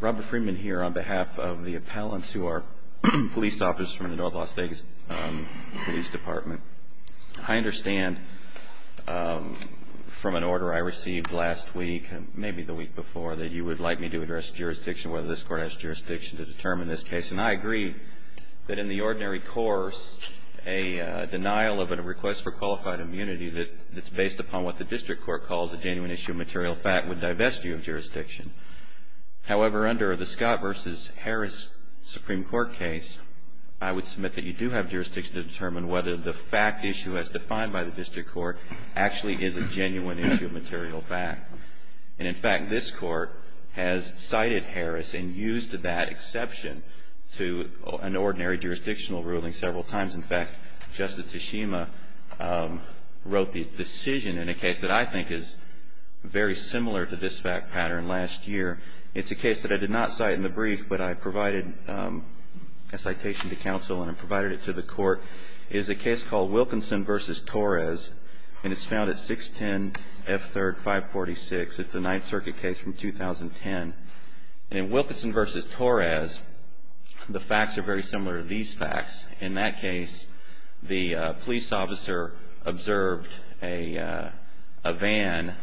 Robert Freeman here on behalf of the appellants who are police officers from the North Las Vegas Police Department. I understand from an order I received last week, maybe the week before, that you would like me to address jurisdiction, whether this court has jurisdiction to determine this case. And I agree that in the ordinary course, a denial of a request for qualified immunity that's based upon what the district court calls a genuine issue of material fact would divest you of jurisdiction. However, under the Scott v. Harris Supreme Court case, I would submit that you do have jurisdiction to determine whether the fact issue as defined by the district court actually is a genuine issue of material fact. And in fact, this court has cited Harris and used that exception to an ordinary jurisdictional ruling several times. In fact, Justice Tshima wrote the decision in a case that I think is very similar to this fact pattern last year. It's a case that I did not cite in the brief, but I provided a citation to counsel and I provided it to the court. It is a case called Wilkinson v. Torres, and it's found at 610 F. 3rd 546. It's a Ninth Circuit case from 2010. In Wilkinson v. Torres, the facts are very similar to these facts. In that case, the police officer observed a van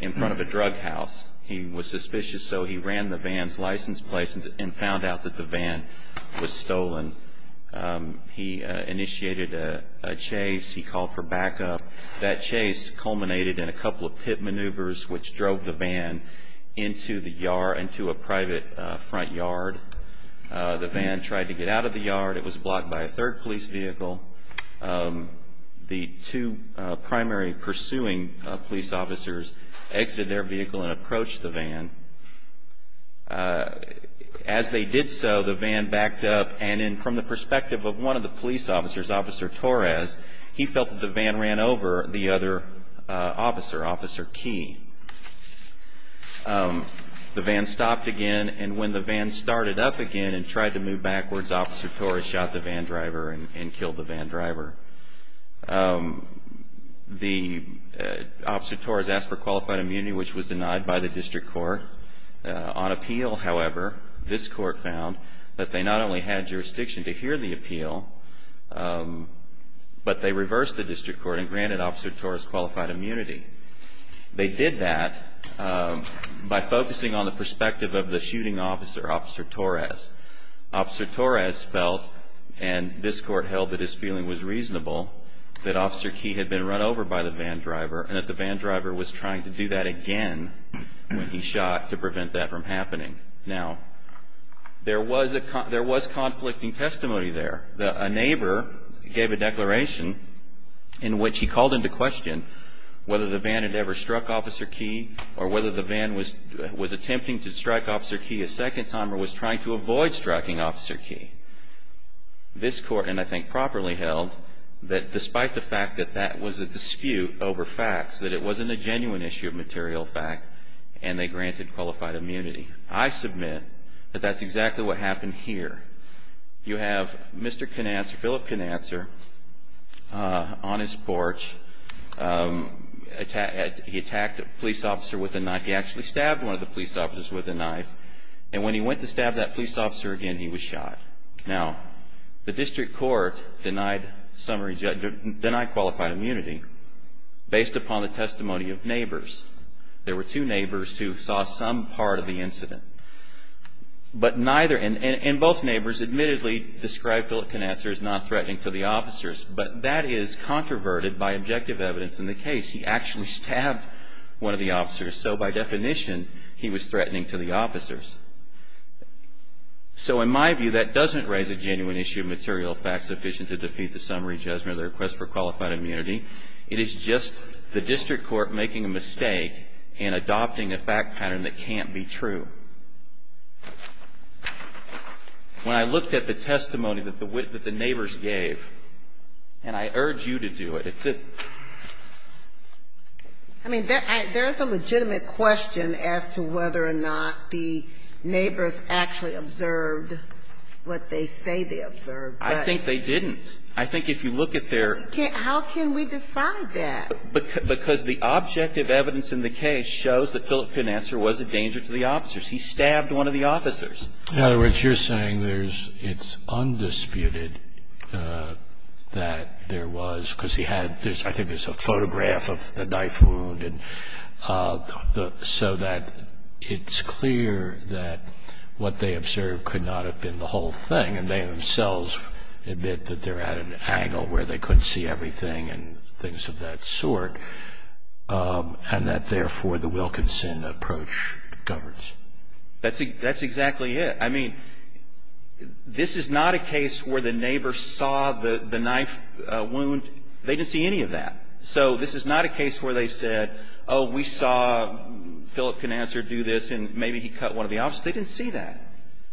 in front of a drug house. He was suspicious, so he ran the van's license plate and found out that the van was stolen. He initiated a chase. He called for backup. That chase culminated in a couple of pit maneuvers, which drove the van into the yard, into a private front yard. The van tried to get out of the yard. It was blocked by a third police vehicle. The two primary pursuing police officers exited their vehicle and approached the van. As they did so, the van backed up, and from the perspective of one of the police officers, Officer Torres, he felt that the van ran over the other officer, Officer Key. The van stopped again, and when the van started up again and tried to move backwards, Officer Torres shot the van driver and killed the van driver. Officer Torres asked for qualified immunity, which was denied by the district court. On appeal, however, this court found that they not only had jurisdiction to hear the appeal, but they reversed the district court and granted Officer Torres qualified immunity. They did that by focusing on the perspective of the shooting officer, Officer Torres. Officer Torres felt, and this court held that his feeling was reasonable, that Officer Key had been run over by the van driver and that the van driver was trying to do that again when he shot to prevent that from happening. Now, there was conflicting testimony there. A neighbor gave a declaration in which he called into question whether the van had ever struck Officer Key or whether the van was attempting to strike Officer Key a second time or was trying to avoid striking Officer Key. This court, and I think properly held, that despite the fact that that was a dispute over facts, that it wasn't a genuine issue of material fact, and they granted qualified immunity. I submit that that's exactly what happened here. You have Mr. Cananser, Phillip Cananser, on his porch. He attacked a police officer with a knife. He actually stabbed one of the police officers with a knife. And when he went to stab that police officer again, he was shot. Now, the district court denied qualified immunity based upon the testimony of neighbors. But neither, and both neighbors admittedly described Phillip Cananser as not threatening to the officers. But that is controverted by objective evidence in the case. He actually stabbed one of the officers. So by definition, he was threatening to the officers. So in my view, that doesn't raise a genuine issue of material fact sufficient to defeat the summary judgment or the request for qualified immunity. It is just the district court making a mistake and adopting a fact pattern that can't be true. When I looked at the testimony that the neighbors gave, and I urge you to do it, it's a ---- I mean, there is a legitimate question as to whether or not the neighbors actually observed what they say they observed. I think they didn't. I think if you look at their ---- But how can we decide that? Because the objective evidence in the case shows that Phillip Cananser was a danger to the officers. He stabbed one of the officers. In other words, you're saying there's ---- it's undisputed that there was, because he had ---- I think there's a photograph of the knife wound. And so that it's clear that what they observed could not have been the whole thing. And they themselves admit that they're at an angle where they couldn't see everything and things of that sort, and that, therefore, the Wilkinson approach governs. That's exactly it. I mean, this is not a case where the neighbor saw the knife wound. They didn't see any of that. So this is not a case where they said, oh, we saw Phillip Cananser do this, and maybe he cut one of the officers. They didn't see that.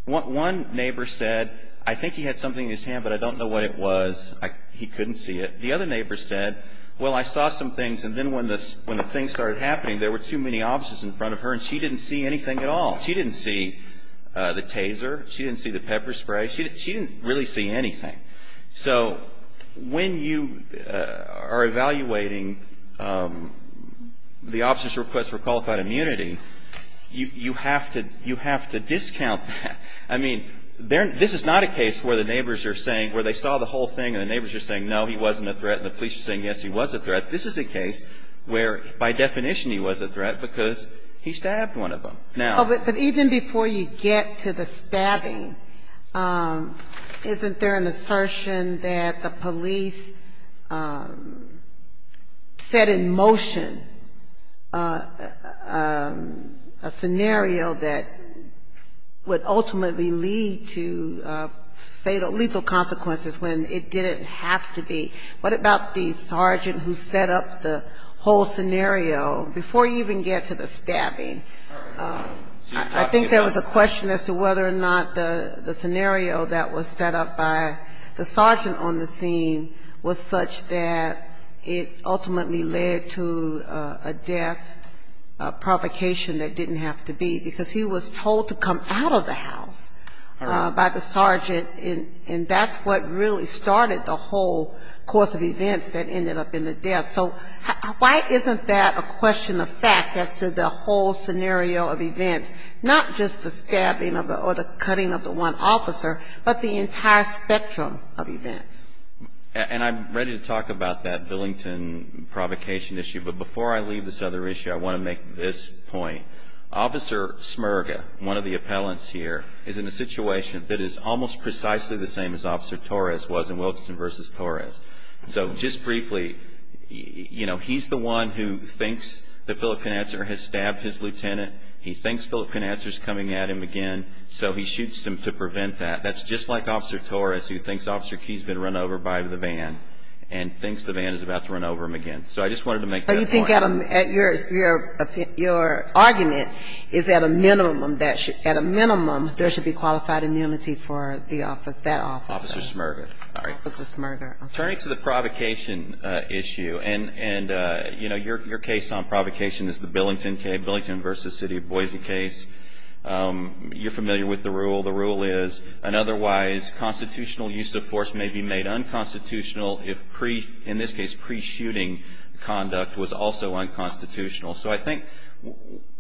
One neighbor said, I think he had something in his hand, but I don't know what it was. He couldn't see it. The other neighbor said, well, I saw some things, and then when the things started happening, there were too many officers in front of her, and she didn't see anything at all. She didn't see the taser. She didn't see the pepper spray. She didn't really see anything. So when you are evaluating the officer's request for qualified immunity, you have to discount that. I mean, this is not a case where the neighbors are saying, where they saw the whole thing, and the neighbors are saying, no, he wasn't a threat, and the police are saying, yes, he was a threat. This is a case where, by definition, he was a threat because he stabbed one of them. Now. But even before you get to the stabbing, isn't there an assertion that the police set in motion a scenario that would ultimately lead to lethal consequences when it didn't have to be? What about the sergeant who set up the whole scenario, before you even get to the stabbing? I think there was a question as to whether or not the scenario that was set up by the sergeant on the scene was such that it ultimately led to a death provocation that didn't have to be, because he was told to come out of the house by the sergeant, and that's what really started the whole course of events that ended up in the death. So why isn't that a question of fact as to the whole scenario of events, not just the stabbing or the cutting of the one officer, but the entire spectrum of events? And I'm ready to talk about that Billington provocation issue, but before I leave this other issue, I want to make this point. Officer Smirga, one of the appellants here, is in a situation that is almost precisely the same as Officer Torres was in Wilkinson v. Torres. So just briefly, you know, he's the one who thinks the Filipino has stabbed his lieutenant. He thinks Filipino is coming at him again, so he shoots him to prevent that. That's just like Officer Torres who thinks Officer Keyes has been run over by the van and thinks the van is about to run over him again. So I just wanted to make that point. I think your argument is at a minimum there should be qualified immunity for that officer. Officer Smirga. Sorry. Officer Smirga. Turning to the provocation issue, and, you know, your case on provocation is the Billington case, Billington v. City of Boise case. You're familiar with the rule. The rule is, an otherwise constitutional use of force may be made unconstitutional if, in this case, pre-shooting conduct was also unconstitutional. So I think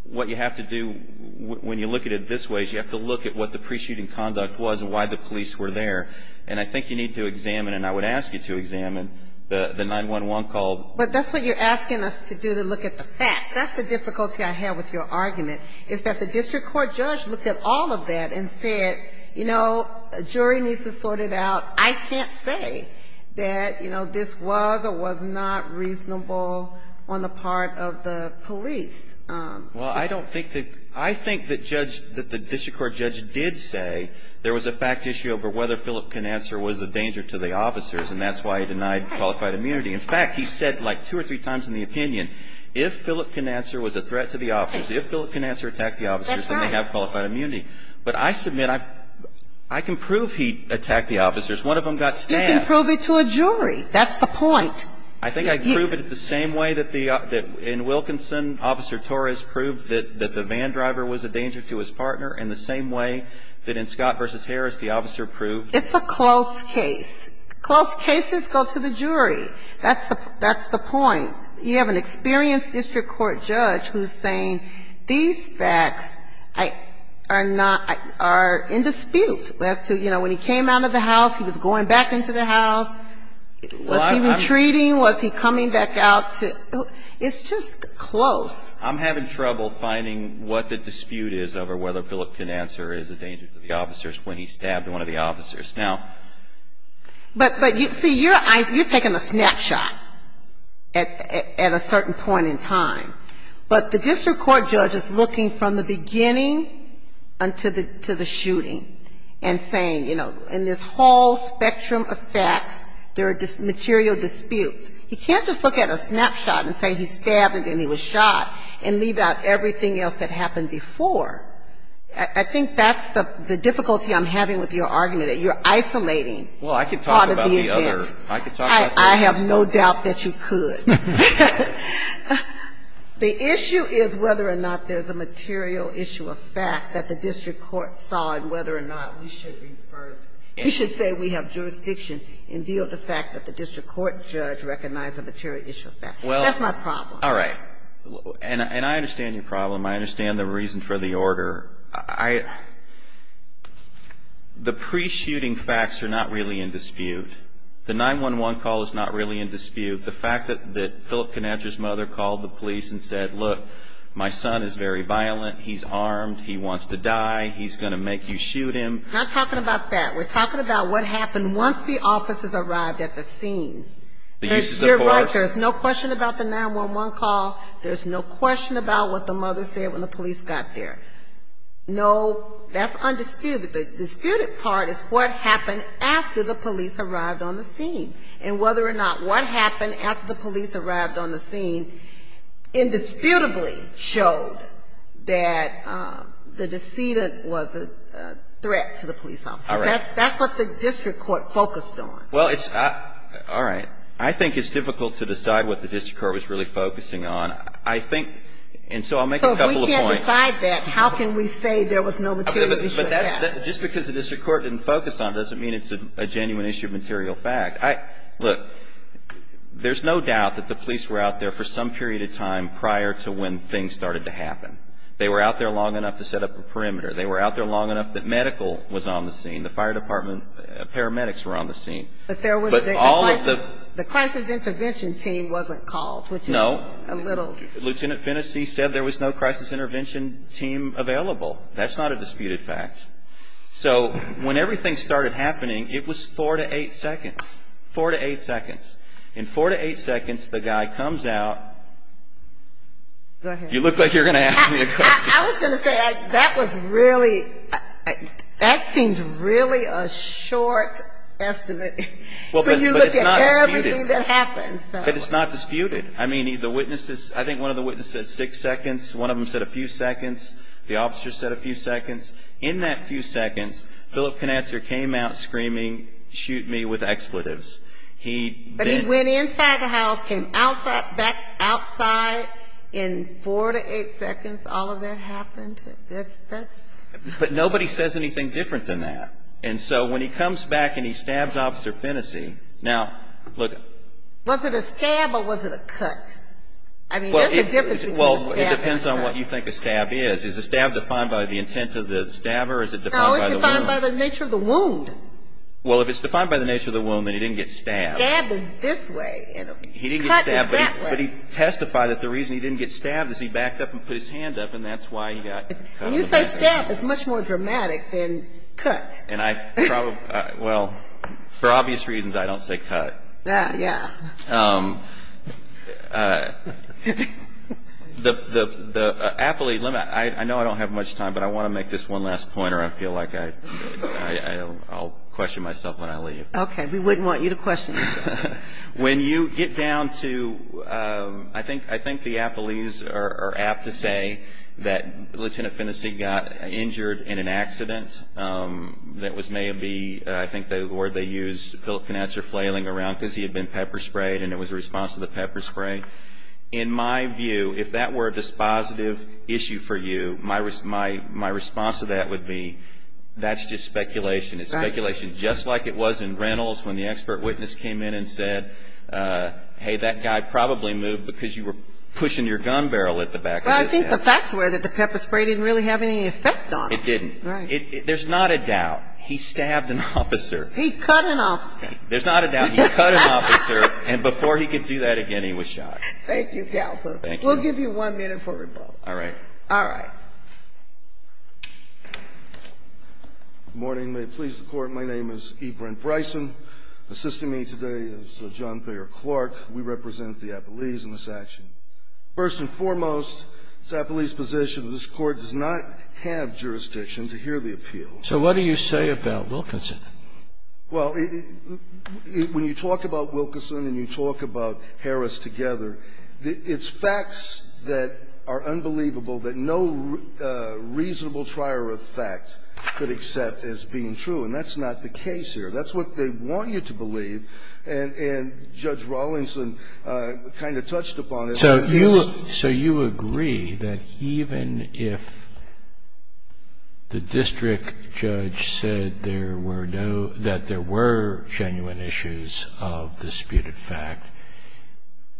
what you have to do when you look at it this way is you have to look at what the pre-shooting conduct was and why the police were there. And I think you need to examine, and I would ask you to examine, the 911 call. But that's what you're asking us to do, to look at the facts. That's the difficulty I have with your argument, is that the district court judge looked at all of that and said, you know, a jury needs to sort it out. I can't say that, you know, this was or was not reasonable on the part of the police. Well, I don't think that the district court judge did say there was a fact issue over whether Philip Knaxer was a danger to the officers, and that's why he denied qualified immunity. In fact, he said like two or three times in the opinion, if Philip Knaxer was a threat to the officers, if Philip Knaxer attacked the officers, then they have qualified immunity. But I submit, I can prove he attacked the officers. One of them got stabbed. You can prove it to a jury. That's the point. I think I can prove it the same way that in Wilkinson, Officer Torres proved that the van driver was a danger to his partner, and the same way that in Scott v. Harris, the officer proved. It's a close case. Close cases go to the jury. That's the point. You have an experienced district court judge who's saying these facts are not, are in dispute as to, you know, when he came out of the house, he was going back into the house. Was he retreating? Was he coming back out? It's just close. I'm having trouble finding what the dispute is over whether Philip Knaxer is a danger to the officers when he stabbed one of the officers. But, see, you're taking a snapshot at a certain point in time. But the district court judge is looking from the beginning to the shooting and saying, you know, in this whole spectrum of facts, there are material disputes. He can't just look at a snapshot and say he stabbed and he was shot and leave out everything else that happened before. I think that's the difficulty I'm having with your argument, that you're isolating part of the events. Well, I can talk about the other. I can talk about the other stuff. I have no doubt that you could. The issue is whether or not there's a material issue of fact that the district court saw and whether or not we should be first. We should say we have jurisdiction in view of the fact that the district court judge recognized a material issue of fact. That's my problem. All right. And I understand your problem. I understand the reason for the order. I the pre-shooting facts are not really in dispute. The 911 call is not really in dispute. The fact that Philip Conatra's mother called the police and said, look, my son is very violent. He's armed. He wants to die. He's going to make you shoot him. We're not talking about that. We're talking about what happened once the officers arrived at the scene. You're right. There's no question about the 911 call. There's no question about what the mother said when the police got there. No, that's undisputed. The disputed part is what happened after the police arrived on the scene and whether or not what happened after the police arrived on the scene indisputably showed that the decedent was a threat to the police officers. That's what the district court focused on. Well, it's all right. I think it's difficult to decide what the district court was really focusing on. I think, and so I'll make a couple of points. So if we can't decide that, how can we say there was no material issue of that? Just because the district court didn't focus on it doesn't mean it's a genuine issue of material fact. Look, there's no doubt that the police were out there for some period of time prior to when things started to happen. They were out there long enough to set up a perimeter. They were out there long enough that medical was on the scene. The fire department paramedics were on the scene. But there was the crisis intervention team wasn't called. No. Which is a little. Lieutenant Fennessy said there was no crisis intervention team available. That's not a disputed fact. So when everything started happening, it was four to eight seconds. Four to eight seconds. In four to eight seconds, the guy comes out. Go ahead. You look like you're going to ask me a question. I was going to say, that was really, that seems really a short estimate. When you look at everything that happened. But it's not disputed. I mean, the witnesses, I think one of the witnesses said six seconds. One of them said a few seconds. The officer said a few seconds. In that few seconds, Philip Knatzer came out screaming, shoot me with expletives. He then. And the inside of the house came back outside in four to eight seconds. All of that happened. That's. But nobody says anything different than that. And so when he comes back and he stabs Officer Fennessy. Now, look. Was it a stab or was it a cut? I mean, there's a difference between a stab and a cut. Well, it depends on what you think a stab is. Is a stab defined by the intent of the stabber or is it defined by the wound? No, it's defined by the nature of the wound. Well, if it's defined by the nature of the wound, then he didn't get stabbed. A stab is this way and a cut is that way. But he testified that the reason he didn't get stabbed is he backed up and put his hand up and that's why he got cut. When you say stab, it's much more dramatic than cut. And I probably. Well, for obvious reasons, I don't say cut. Yeah, yeah. The aptly. I know I don't have much time, but I want to make this one last point or I feel like I'll question myself when I leave. Okay. We wouldn't want you to question yourself. When you get down to, I think the appellees are apt to say that Lieutenant Phinnessy got injured in an accident that was maybe, I think the word they use, Philip Knautser flailing around because he had been pepper sprayed and it was a response to the pepper spray. In my view, if that were a dispositive issue for you, my response to that would be that's just speculation. It's speculation just like it was in Reynolds when the expert witness came in and said, hey, that guy probably moved because you were pushing your gun barrel at the back of his head. Well, I think the facts were that the pepper spray didn't really have any effect on him. It didn't. Right. There's not a doubt. He stabbed an officer. He cut an officer. There's not a doubt. He cut an officer. And before he could do that again, he was shot. Thank you, counsel. Thank you. We'll give you one minute for rebuttal. All right. All right. Good morning. May it please the Court. My name is E. Brent Bryson. Assisting me today is John Thayer Clark. We represent the appellees in this action. First and foremost, it's the appellee's position that this Court does not have jurisdiction to hear the appeal. So what do you say about Wilkinson? Well, when you talk about Wilkinson and you talk about Harris together, it's facts that are unbelievable that no reasonable trier of fact could accept as being true. And that's not the case here. That's what they want you to believe. And Judge Rawlinson kind of touched upon it. So you agree that even if the district judge said there were no – that there were genuine issues of disputed fact,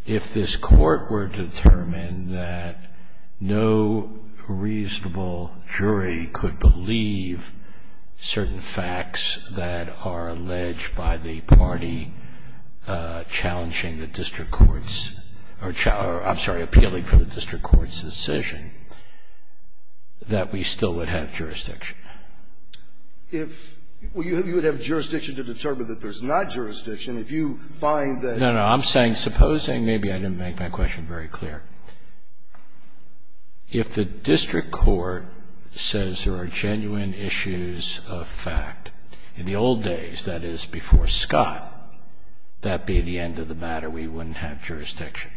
if this Court were to determine that no reasonable jury could believe certain facts that are alleged by the party challenging the district court's – or, I'm sorry, appealing for the district court's decision, that we still would have jurisdiction? If – well, you would have jurisdiction to determine that there's not jurisdiction if you find that – No, no. I'm saying, supposing – maybe I didn't make my question very clear. If the district court says there are genuine issues of fact, in the old days, that is, before Scott, that be the end of the matter, we wouldn't have jurisdiction.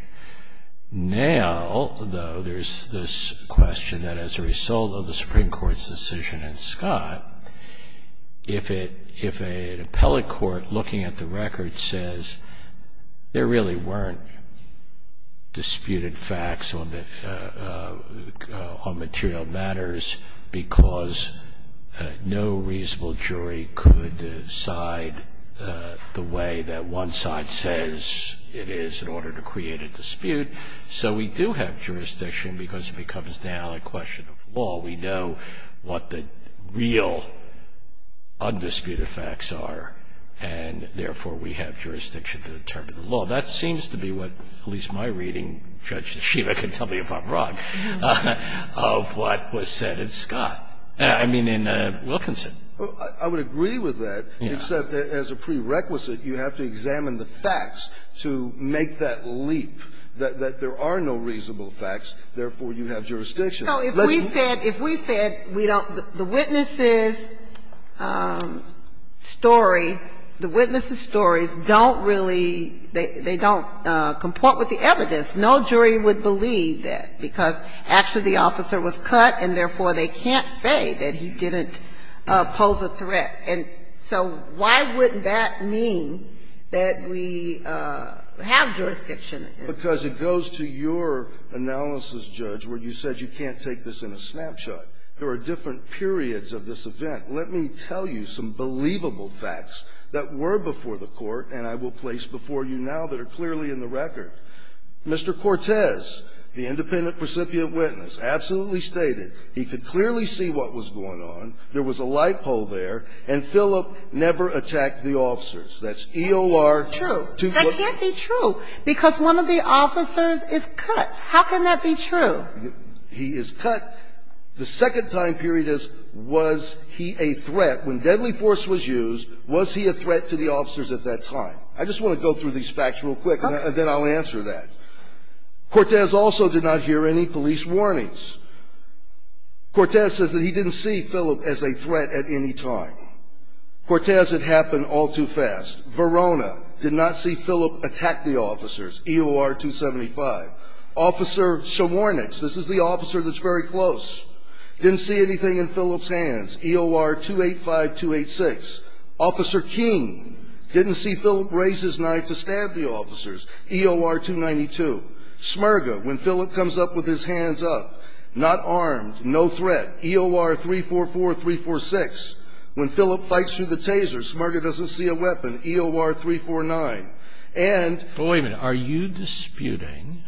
Now, though, there's this question that as a result of the Supreme Court's decision in Scott, if an appellate court looking at the record says there really weren't disputed facts on material matters because no reasonable jury could decide the way that one side says it is in order to create a dispute, so we do have jurisdiction because it becomes now a question of law. We know what the real undisputed facts are, and therefore we have jurisdiction to determine the law. That seems to be what, at least my reading – Judge Sheehan can tell me if I'm wrong – of what was said in Scott – I mean, in Wilkinson. I would agree with that, except as a prerequisite, you have to examine the facts to make that leap, that there are no reasonable facts, therefore you have jurisdiction. So if we said, if we said we don't – the witness's story, the witness's stories don't really – they don't comport with the evidence. No jury would believe that, because actually the officer was cut, and therefore they can't say that he didn't pose a threat. And so why would that mean that we have jurisdiction? Because it goes to your analysis, Judge, where you said you can't take this in a snapshot. There are different periods of this event. Let me tell you some believable facts that were before the Court and I will place before you now that are clearly in the record. Mr. Cortez, the independent recipient witness, absolutely stated he could clearly see what was going on, there was a light pole there, and Philip never attacked the officers. That's E.O.R. – True. That can't be true, because one of the officers is cut. How can that be true? He is cut. The second time period is, was he a threat? When deadly force was used, was he a threat to the officers at that time? I just want to go through these facts real quick. Okay. Then I'll answer that. Cortez also did not hear any police warnings. Cortez says that he didn't see Philip as a threat at any time. Cortez, it happened all too fast. Verona, did not see Philip attack the officers, E.O.R. 275. Officer Shawarnix, this is the officer that's very close, didn't see anything in Philip's hands, E.O.R. 285, 286. Officer King, didn't see Philip raise his knife to stab the officers, E.O.R. 292. Smirga, when Philip comes up with his hands up, not armed, no threat, E.O.R. 344, 346. When Philip fights through the taser, Smirga doesn't see a weapon, E.O.R. 349. And – Wait a minute. Are you disputing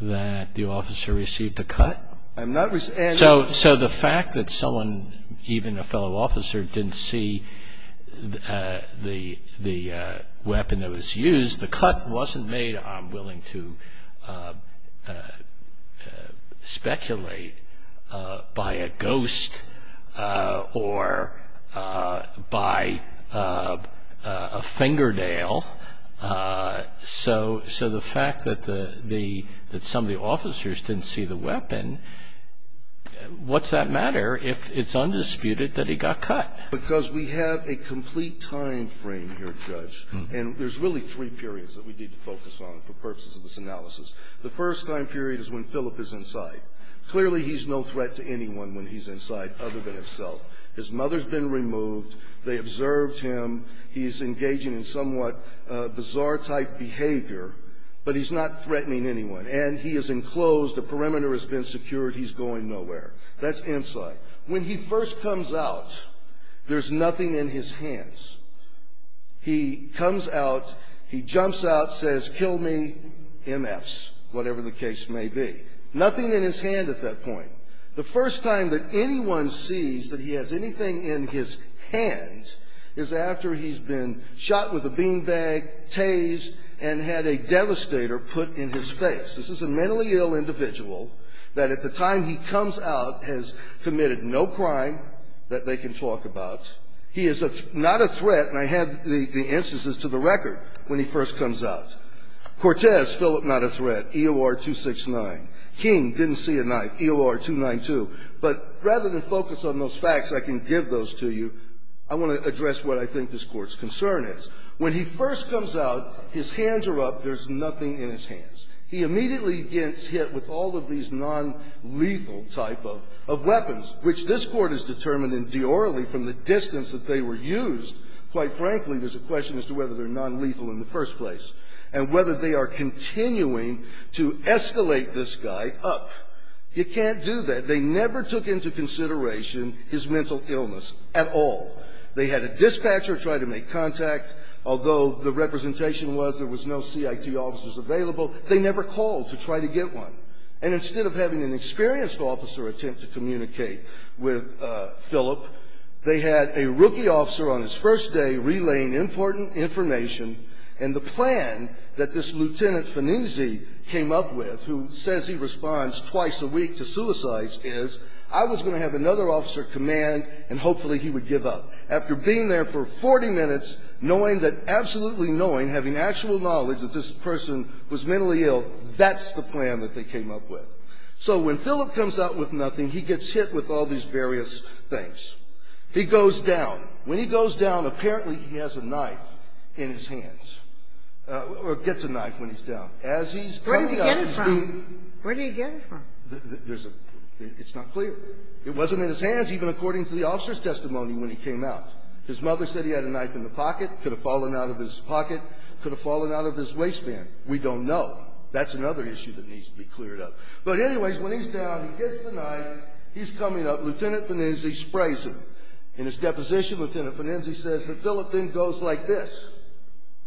that the officer received a cut? I'm not – So the fact that someone, even a fellow officer, didn't see the weapon that was used, the cut wasn't made, I'm willing to speculate, by a ghost or by a fingernail. So the fact that some of the officers didn't see the weapon, what's that matter if it's undisputed that he got cut? Because we have a complete time frame here, Judge, and there's really three periods that we need to focus on for purposes of this analysis. The first time period is when Philip is inside. Clearly, he's no threat to anyone when he's inside other than himself. His mother's been removed. They observed him. He's engaging in somewhat bizarre-type behavior, but he's not threatening anyone. And he is enclosed. The perimeter has been secured. He's going nowhere. That's inside. When he first comes out, there's nothing in his hands. He comes out, he jumps out, says, kill me, MFs, whatever the case may be. Nothing in his hand at that point. The first time that anyone sees that he has anything in his hands is after he's been shot with a beanbag, tased, and had a devastator put in his face. This is a mentally ill individual that at the time he comes out has committed no crime that they can talk about. He is not a threat, and I have the instances to the record when he first comes out. Cortez, Philip not a threat, EOR-269. King, didn't see a knife, EOR-269. But rather than focus on those facts, I can give those to you. I want to address what I think this Court's concern is. When he first comes out, his hands are up. There's nothing in his hands. He immediately gets hit with all of these nonlethal-type of weapons, which this Court has determined in de orally from the distance that they were used, quite frankly, there's a question as to whether they're nonlethal in the first place and whether they are continuing to escalate this guy up. You can't do that. They never took into consideration his mental illness at all. They had a dispatcher try to make contact. Although the representation was there was no CIT officers available, they never called to try to get one. And instead of having an experienced officer attempt to communicate with Philip, they had a rookie officer on his first day relaying important information, and the plan that this Lieutenant Fanese came up with, who says he responds twice a week to suicides, is I was going to have another officer command, and hopefully he would give up. After being there for 40 minutes, knowing that, absolutely knowing, having actual knowledge that this person was mentally ill, that's the plan that they came up with. So when Philip comes out with nothing, he gets hit with all these various things. He goes down. When he goes down, apparently he has a knife in his hands, or gets a knife when he's down. As he's coming up, he's being ---- Where did he get it from? Where did he get it from? There's a ---- it's not clear. It wasn't in his hands even according to the officer's testimony when he came out. His mother said he had a knife in the pocket, could have fallen out of his pocket, could have fallen out of his waistband. We don't know. That's another issue that needs to be cleared up. But anyways, when he's down, he gets the knife. He's coming up. Lieutenant Fanninze sprays him. In his deposition, Lieutenant Fanninze says that Philip then goes like this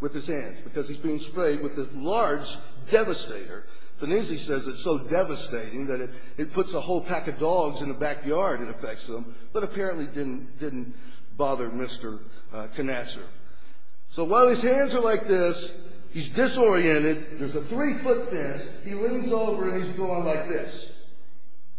with his hands because he's being sprayed with this large devastator. Fanninze says it's so devastating that it puts a whole pack of dogs in the backyard and affects them, but apparently didn't bother Mr. Knatzer. So while his hands are like this, he's disoriented. There's a three-foot fence. He leans over and he's going like this.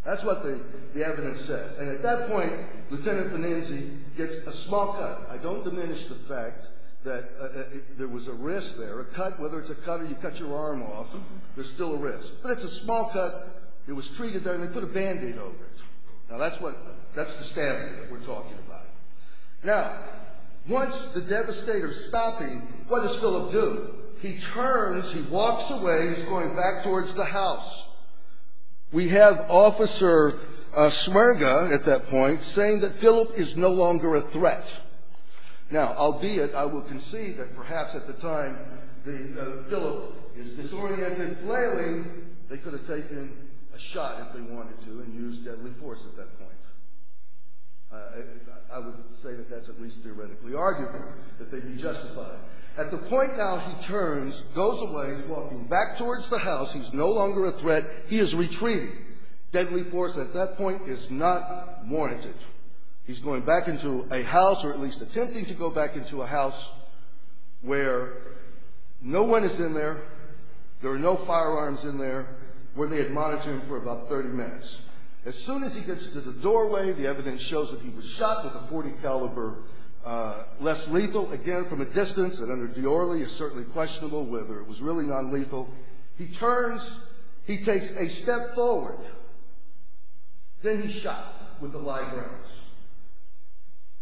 That's what the evidence says. And at that point, Lieutenant Fanninze gets a small cut. I don't diminish the fact that there was a risk there, a cut. Whether it's a cut or you cut your arm off, there's still a risk. But it's a small cut. It was treated and they put a Band-Aid over it. Now, that's the stabbing that we're talking about. Now, once the devastator's stopping, what does Philip do? He turns, he walks away, he's going back towards the house. We have Officer Smerga at that point saying that Philip is no longer a threat. Now, albeit, I will concede that perhaps at the time Philip is disoriented, flailing, they could have taken a shot if they wanted to and used deadly force at that point. I would say that that's at least theoretically arguable, that they be justified. At the point now he turns, goes away, walking back towards the house, he's no longer a threat, he is retreating. Deadly force at that point is not warranted. He's going back into a house or at least attempting to go back into a house where no one is in there, there are no firearms in there, where they had monitored him for about 30 minutes. As soon as he gets to the doorway, the evidence shows that he was shot with a .40 caliber, less lethal, again, from a distance and under Diorly, is certainly questionable whether it was really nonlethal. He turns, he takes a step forward, then he's shot with the live rounds.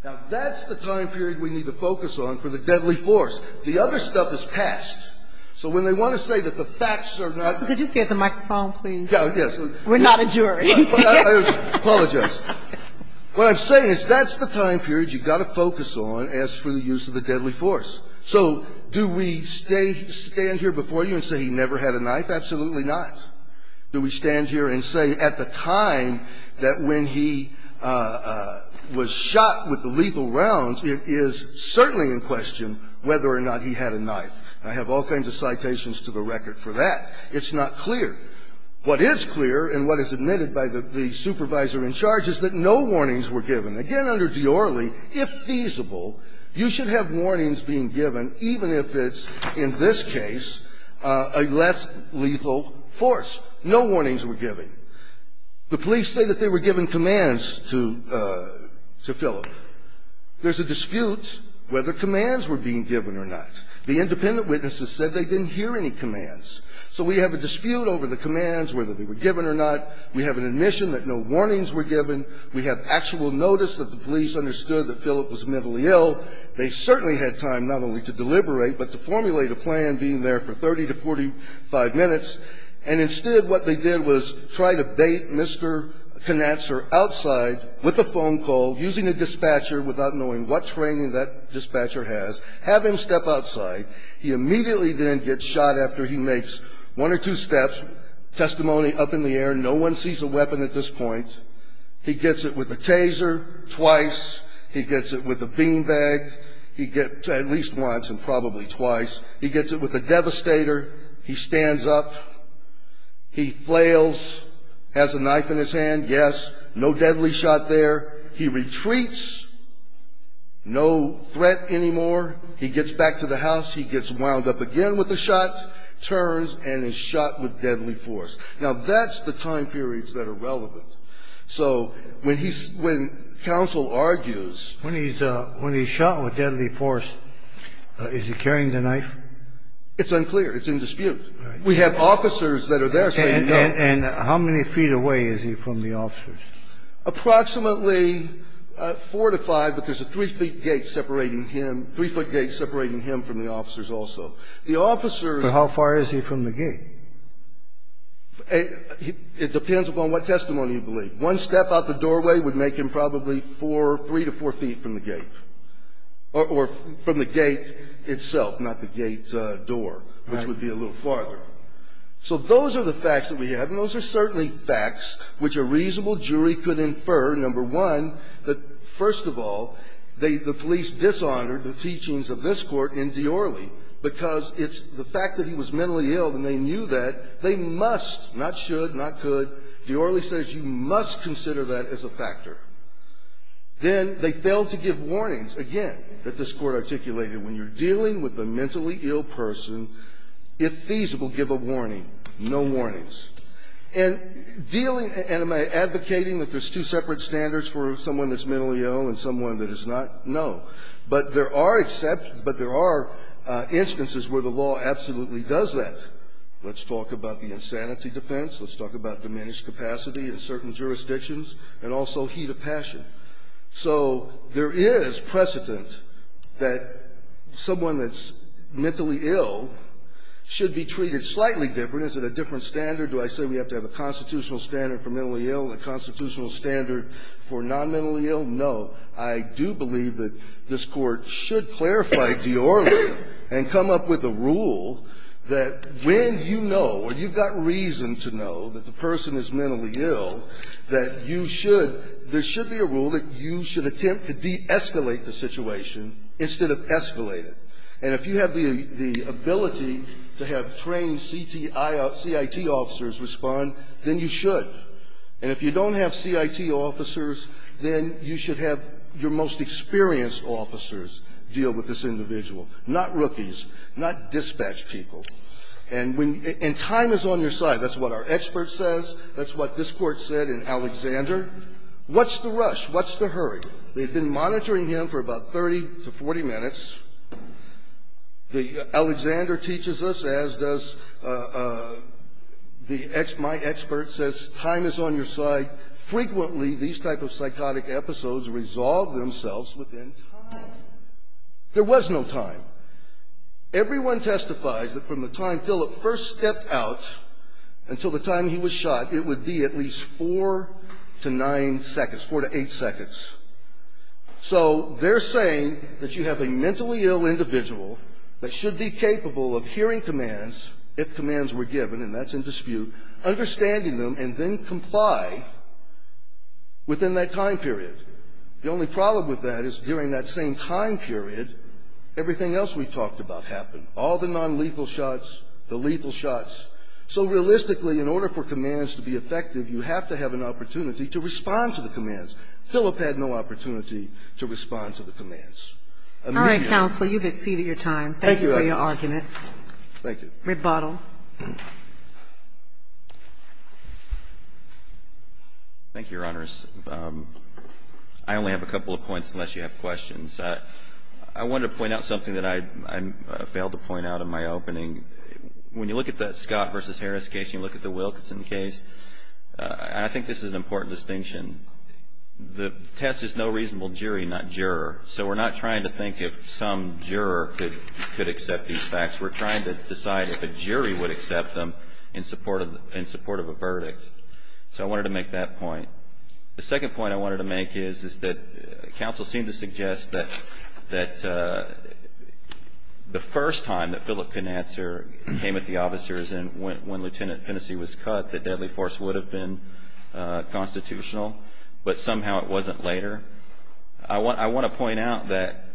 Now, that's the time period we need to focus on for the deadly force. The other stuff is past. So when they want to say that the facts are not there. Could you just get the microphone, please? Yes. We're not a jury. I apologize. What I'm saying is that's the time period you've got to focus on as for the use of the deadly force. So do we stay, stand here before you and say he never had a knife? Absolutely not. Do we stand here and say at the time that when he was shot with the lethal rounds, it is certainly in question whether or not he had a knife? I have all kinds of citations to the record for that. It's not clear. What is clear and what is admitted by the supervisor in charge is that no warnings were given. Again, under Diorly, if feasible, you should have warnings being given even if it's, in this case, a less lethal force. No warnings were given. The police say that they were given commands to Philip. There's a dispute whether commands were being given or not. The independent witnesses said they didn't hear any commands. So we have a dispute over the commands, whether they were given or not. We have an admission that no warnings were given. We have actual notice that the police understood that Philip was mentally ill. They certainly had time not only to deliberate but to formulate a plan being there for 30 to 45 minutes. And instead what they did was try to bait Mr. Knatzer outside with a phone call, using a dispatcher without knowing what training that dispatcher has, have him step outside. He immediately then gets shot after he makes one or two steps, testimony up in the air. No one sees a weapon at this point. He gets it with a taser twice. He gets it with a beanbag. He gets it at least once and probably twice. He gets it with a devastator. He stands up. He flails, has a knife in his hand, yes, no deadly shot there. He retreats, no threat anymore. He gets back to the house. He gets wound up again with a shot, turns, and is shot with deadly force. Now, that's the time periods that are relevant. So when he's – when counsel argues – When he's shot with deadly force, is he carrying the knife? It's unclear. It's in dispute. We have officers that are there saying no. And how many feet away is he from the officers? Approximately four to five, but there's a three-feet gate separating him, three-foot gate separating him from the officers also. The officers – But how far is he from the gate? It depends upon what testimony you believe. One step out the doorway would make him probably four – three to four feet from the gate. Or from the gate itself, not the gate door, which would be a little farther. Right. So those are the facts that we have, and those are certainly facts which a reasonable jury could infer. Number one, that, first of all, they – the police dishonored the teachings of this De Orley because it's the fact that he was mentally ill, and they knew that. They must – not should, not could. De Orley says you must consider that as a factor. Then they failed to give warnings, again, that this Court articulated. When you're dealing with a mentally ill person, if feasible, give a warning. No warnings. And dealing – and am I advocating that there's two separate standards for someone that's mentally ill and someone that is not? No. But there are exceptions – but there are instances where the law absolutely does that. Let's talk about the insanity defense. Let's talk about diminished capacity in certain jurisdictions, and also heat of passion. So there is precedent that someone that's mentally ill should be treated slightly different. Is it a different standard? Do I say we have to have a constitutional standard for mentally ill and a constitutional standard for non-mentally ill? No. I do believe that this Court should clarify De Orley and come up with a rule that when you know or you've got reason to know that the person is mentally ill, that you should – there should be a rule that you should attempt to de-escalate the situation instead of escalate it. And if you have the ability to have trained CIT officers respond, then you should. And if you don't have CIT officers, then you should have your most experienced officers deal with this individual, not rookies, not dispatch people. And when – and time is on your side. That's what our expert says. That's what this Court said in Alexander. What's the rush? What's the hurry? They've been monitoring him for about 30 to 40 minutes. The – Alexander teaches us, as does the – my expert says time is on your side. Frequently, these type of psychotic episodes resolve themselves within time. There was no time. Everyone testifies that from the time Philip first stepped out until the time he was shot, it would be at least four to nine seconds, four to eight seconds. So they're saying that you have a mentally ill individual that should be capable of hearing commands if commands were given, and that's in dispute, understanding them and then comply within that time period. The only problem with that is during that same time period, everything else we've talked about happened. All the nonlethal shots, the lethal shots. So realistically, in order for commands to be effective, you have to have an opportunity to respond to the commands. Philip had no opportunity to respond to the commands. I mean that. All right, counsel. You've exceeded your time. Thank you for your argument. Thank you, Your Honor. Thank you. Rebuttal. Thank you, Your Honors. I only have a couple of points unless you have questions. I wanted to point out something that I failed to point out in my opening. When you look at that Scott v. Harris case, you look at the Wilkinson case. I think this is an important distinction. The test is no reasonable jury, not juror. So we're not trying to think if some juror could accept these facts. We're trying to decide if a jury would accept them in support of a verdict. So I wanted to make that point. The second point I wanted to make is that counsel seemed to suggest that the first time that Philip couldn't answer came at the officers and when Lieutenant Finnessy was cut, the deadly force would have been constitutional. But somehow it wasn't later. I want to point out that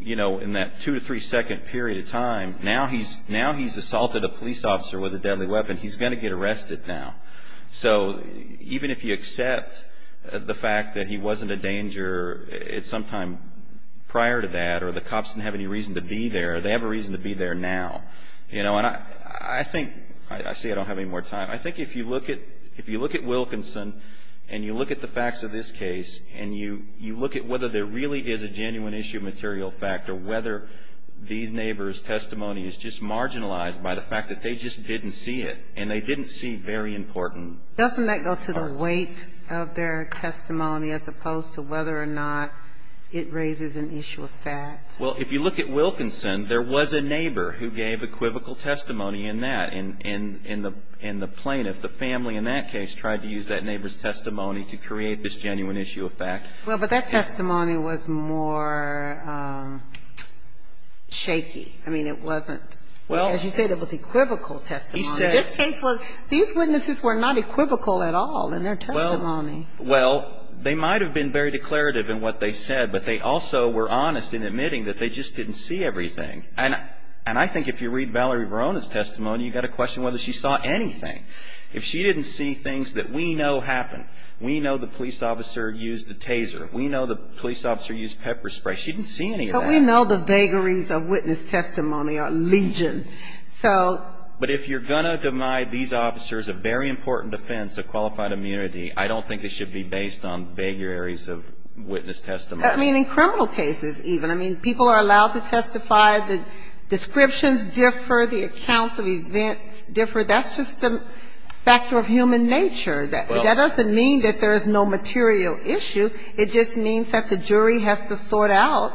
in that two to three second period of time, now he's assaulted a police officer with a deadly weapon. He's going to get arrested now. So even if you accept the fact that he wasn't a danger sometime prior to that or the cops didn't have any reason to be there, they have a reason to be there now. You know, and I think, I see I don't have any more time. I think if you look at Wilkinson and you look at the facts of this case and you look at whether there really is a genuine issue of material fact or whether these neighbors' testimony is just marginalized by the fact that they just didn't see it and they didn't see very important parts. Doesn't that go to the weight of their testimony as opposed to whether or not it raises an issue of fact? Well, if you look at Wilkinson, there was a neighbor who gave equivocal testimony in that, and the plaintiff, the family in that case, tried to use that neighbor's testimony to create this genuine issue of fact. Well, but that testimony was more shaky. I mean, it wasn't. Well. As you said, it was equivocal testimony. He said. This case was. These witnesses were not equivocal at all in their testimony. Well, they might have been very declarative in what they said, but they also were honest in admitting that they just didn't see everything. And I think if you read Valerie Varona's testimony, you've got to question whether she saw anything. If she didn't see things that we know happened. We know the police officer used a taser. We know the police officer used pepper spray. She didn't see any of that. But we know the vagaries of witness testimony are legion. So. But if you're going to demy these officers a very important offense of qualified immunity, I don't think it should be based on vagaries of witness testimony. I mean, in criminal cases even. I mean, people are allowed to testify. The descriptions differ. The accounts of events differ. That's just a factor of human nature. That doesn't mean that there is no material issue. It just means that the jury has to sort out,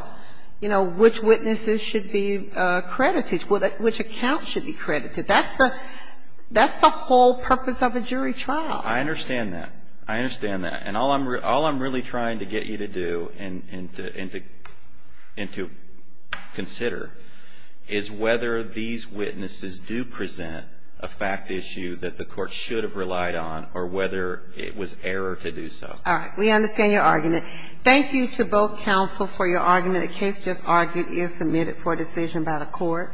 you know, which witnesses should be credited, which accounts should be credited. That's the whole purpose of a jury trial. I understand that. I understand that. And all I'm really trying to get you to do and to consider is whether these witnesses do present a fact issue that the court should have relied on or whether it was error to do so. All right. We understand your argument. Thank you to both counsel for your argument. The case just argued is submitted for decision by the court.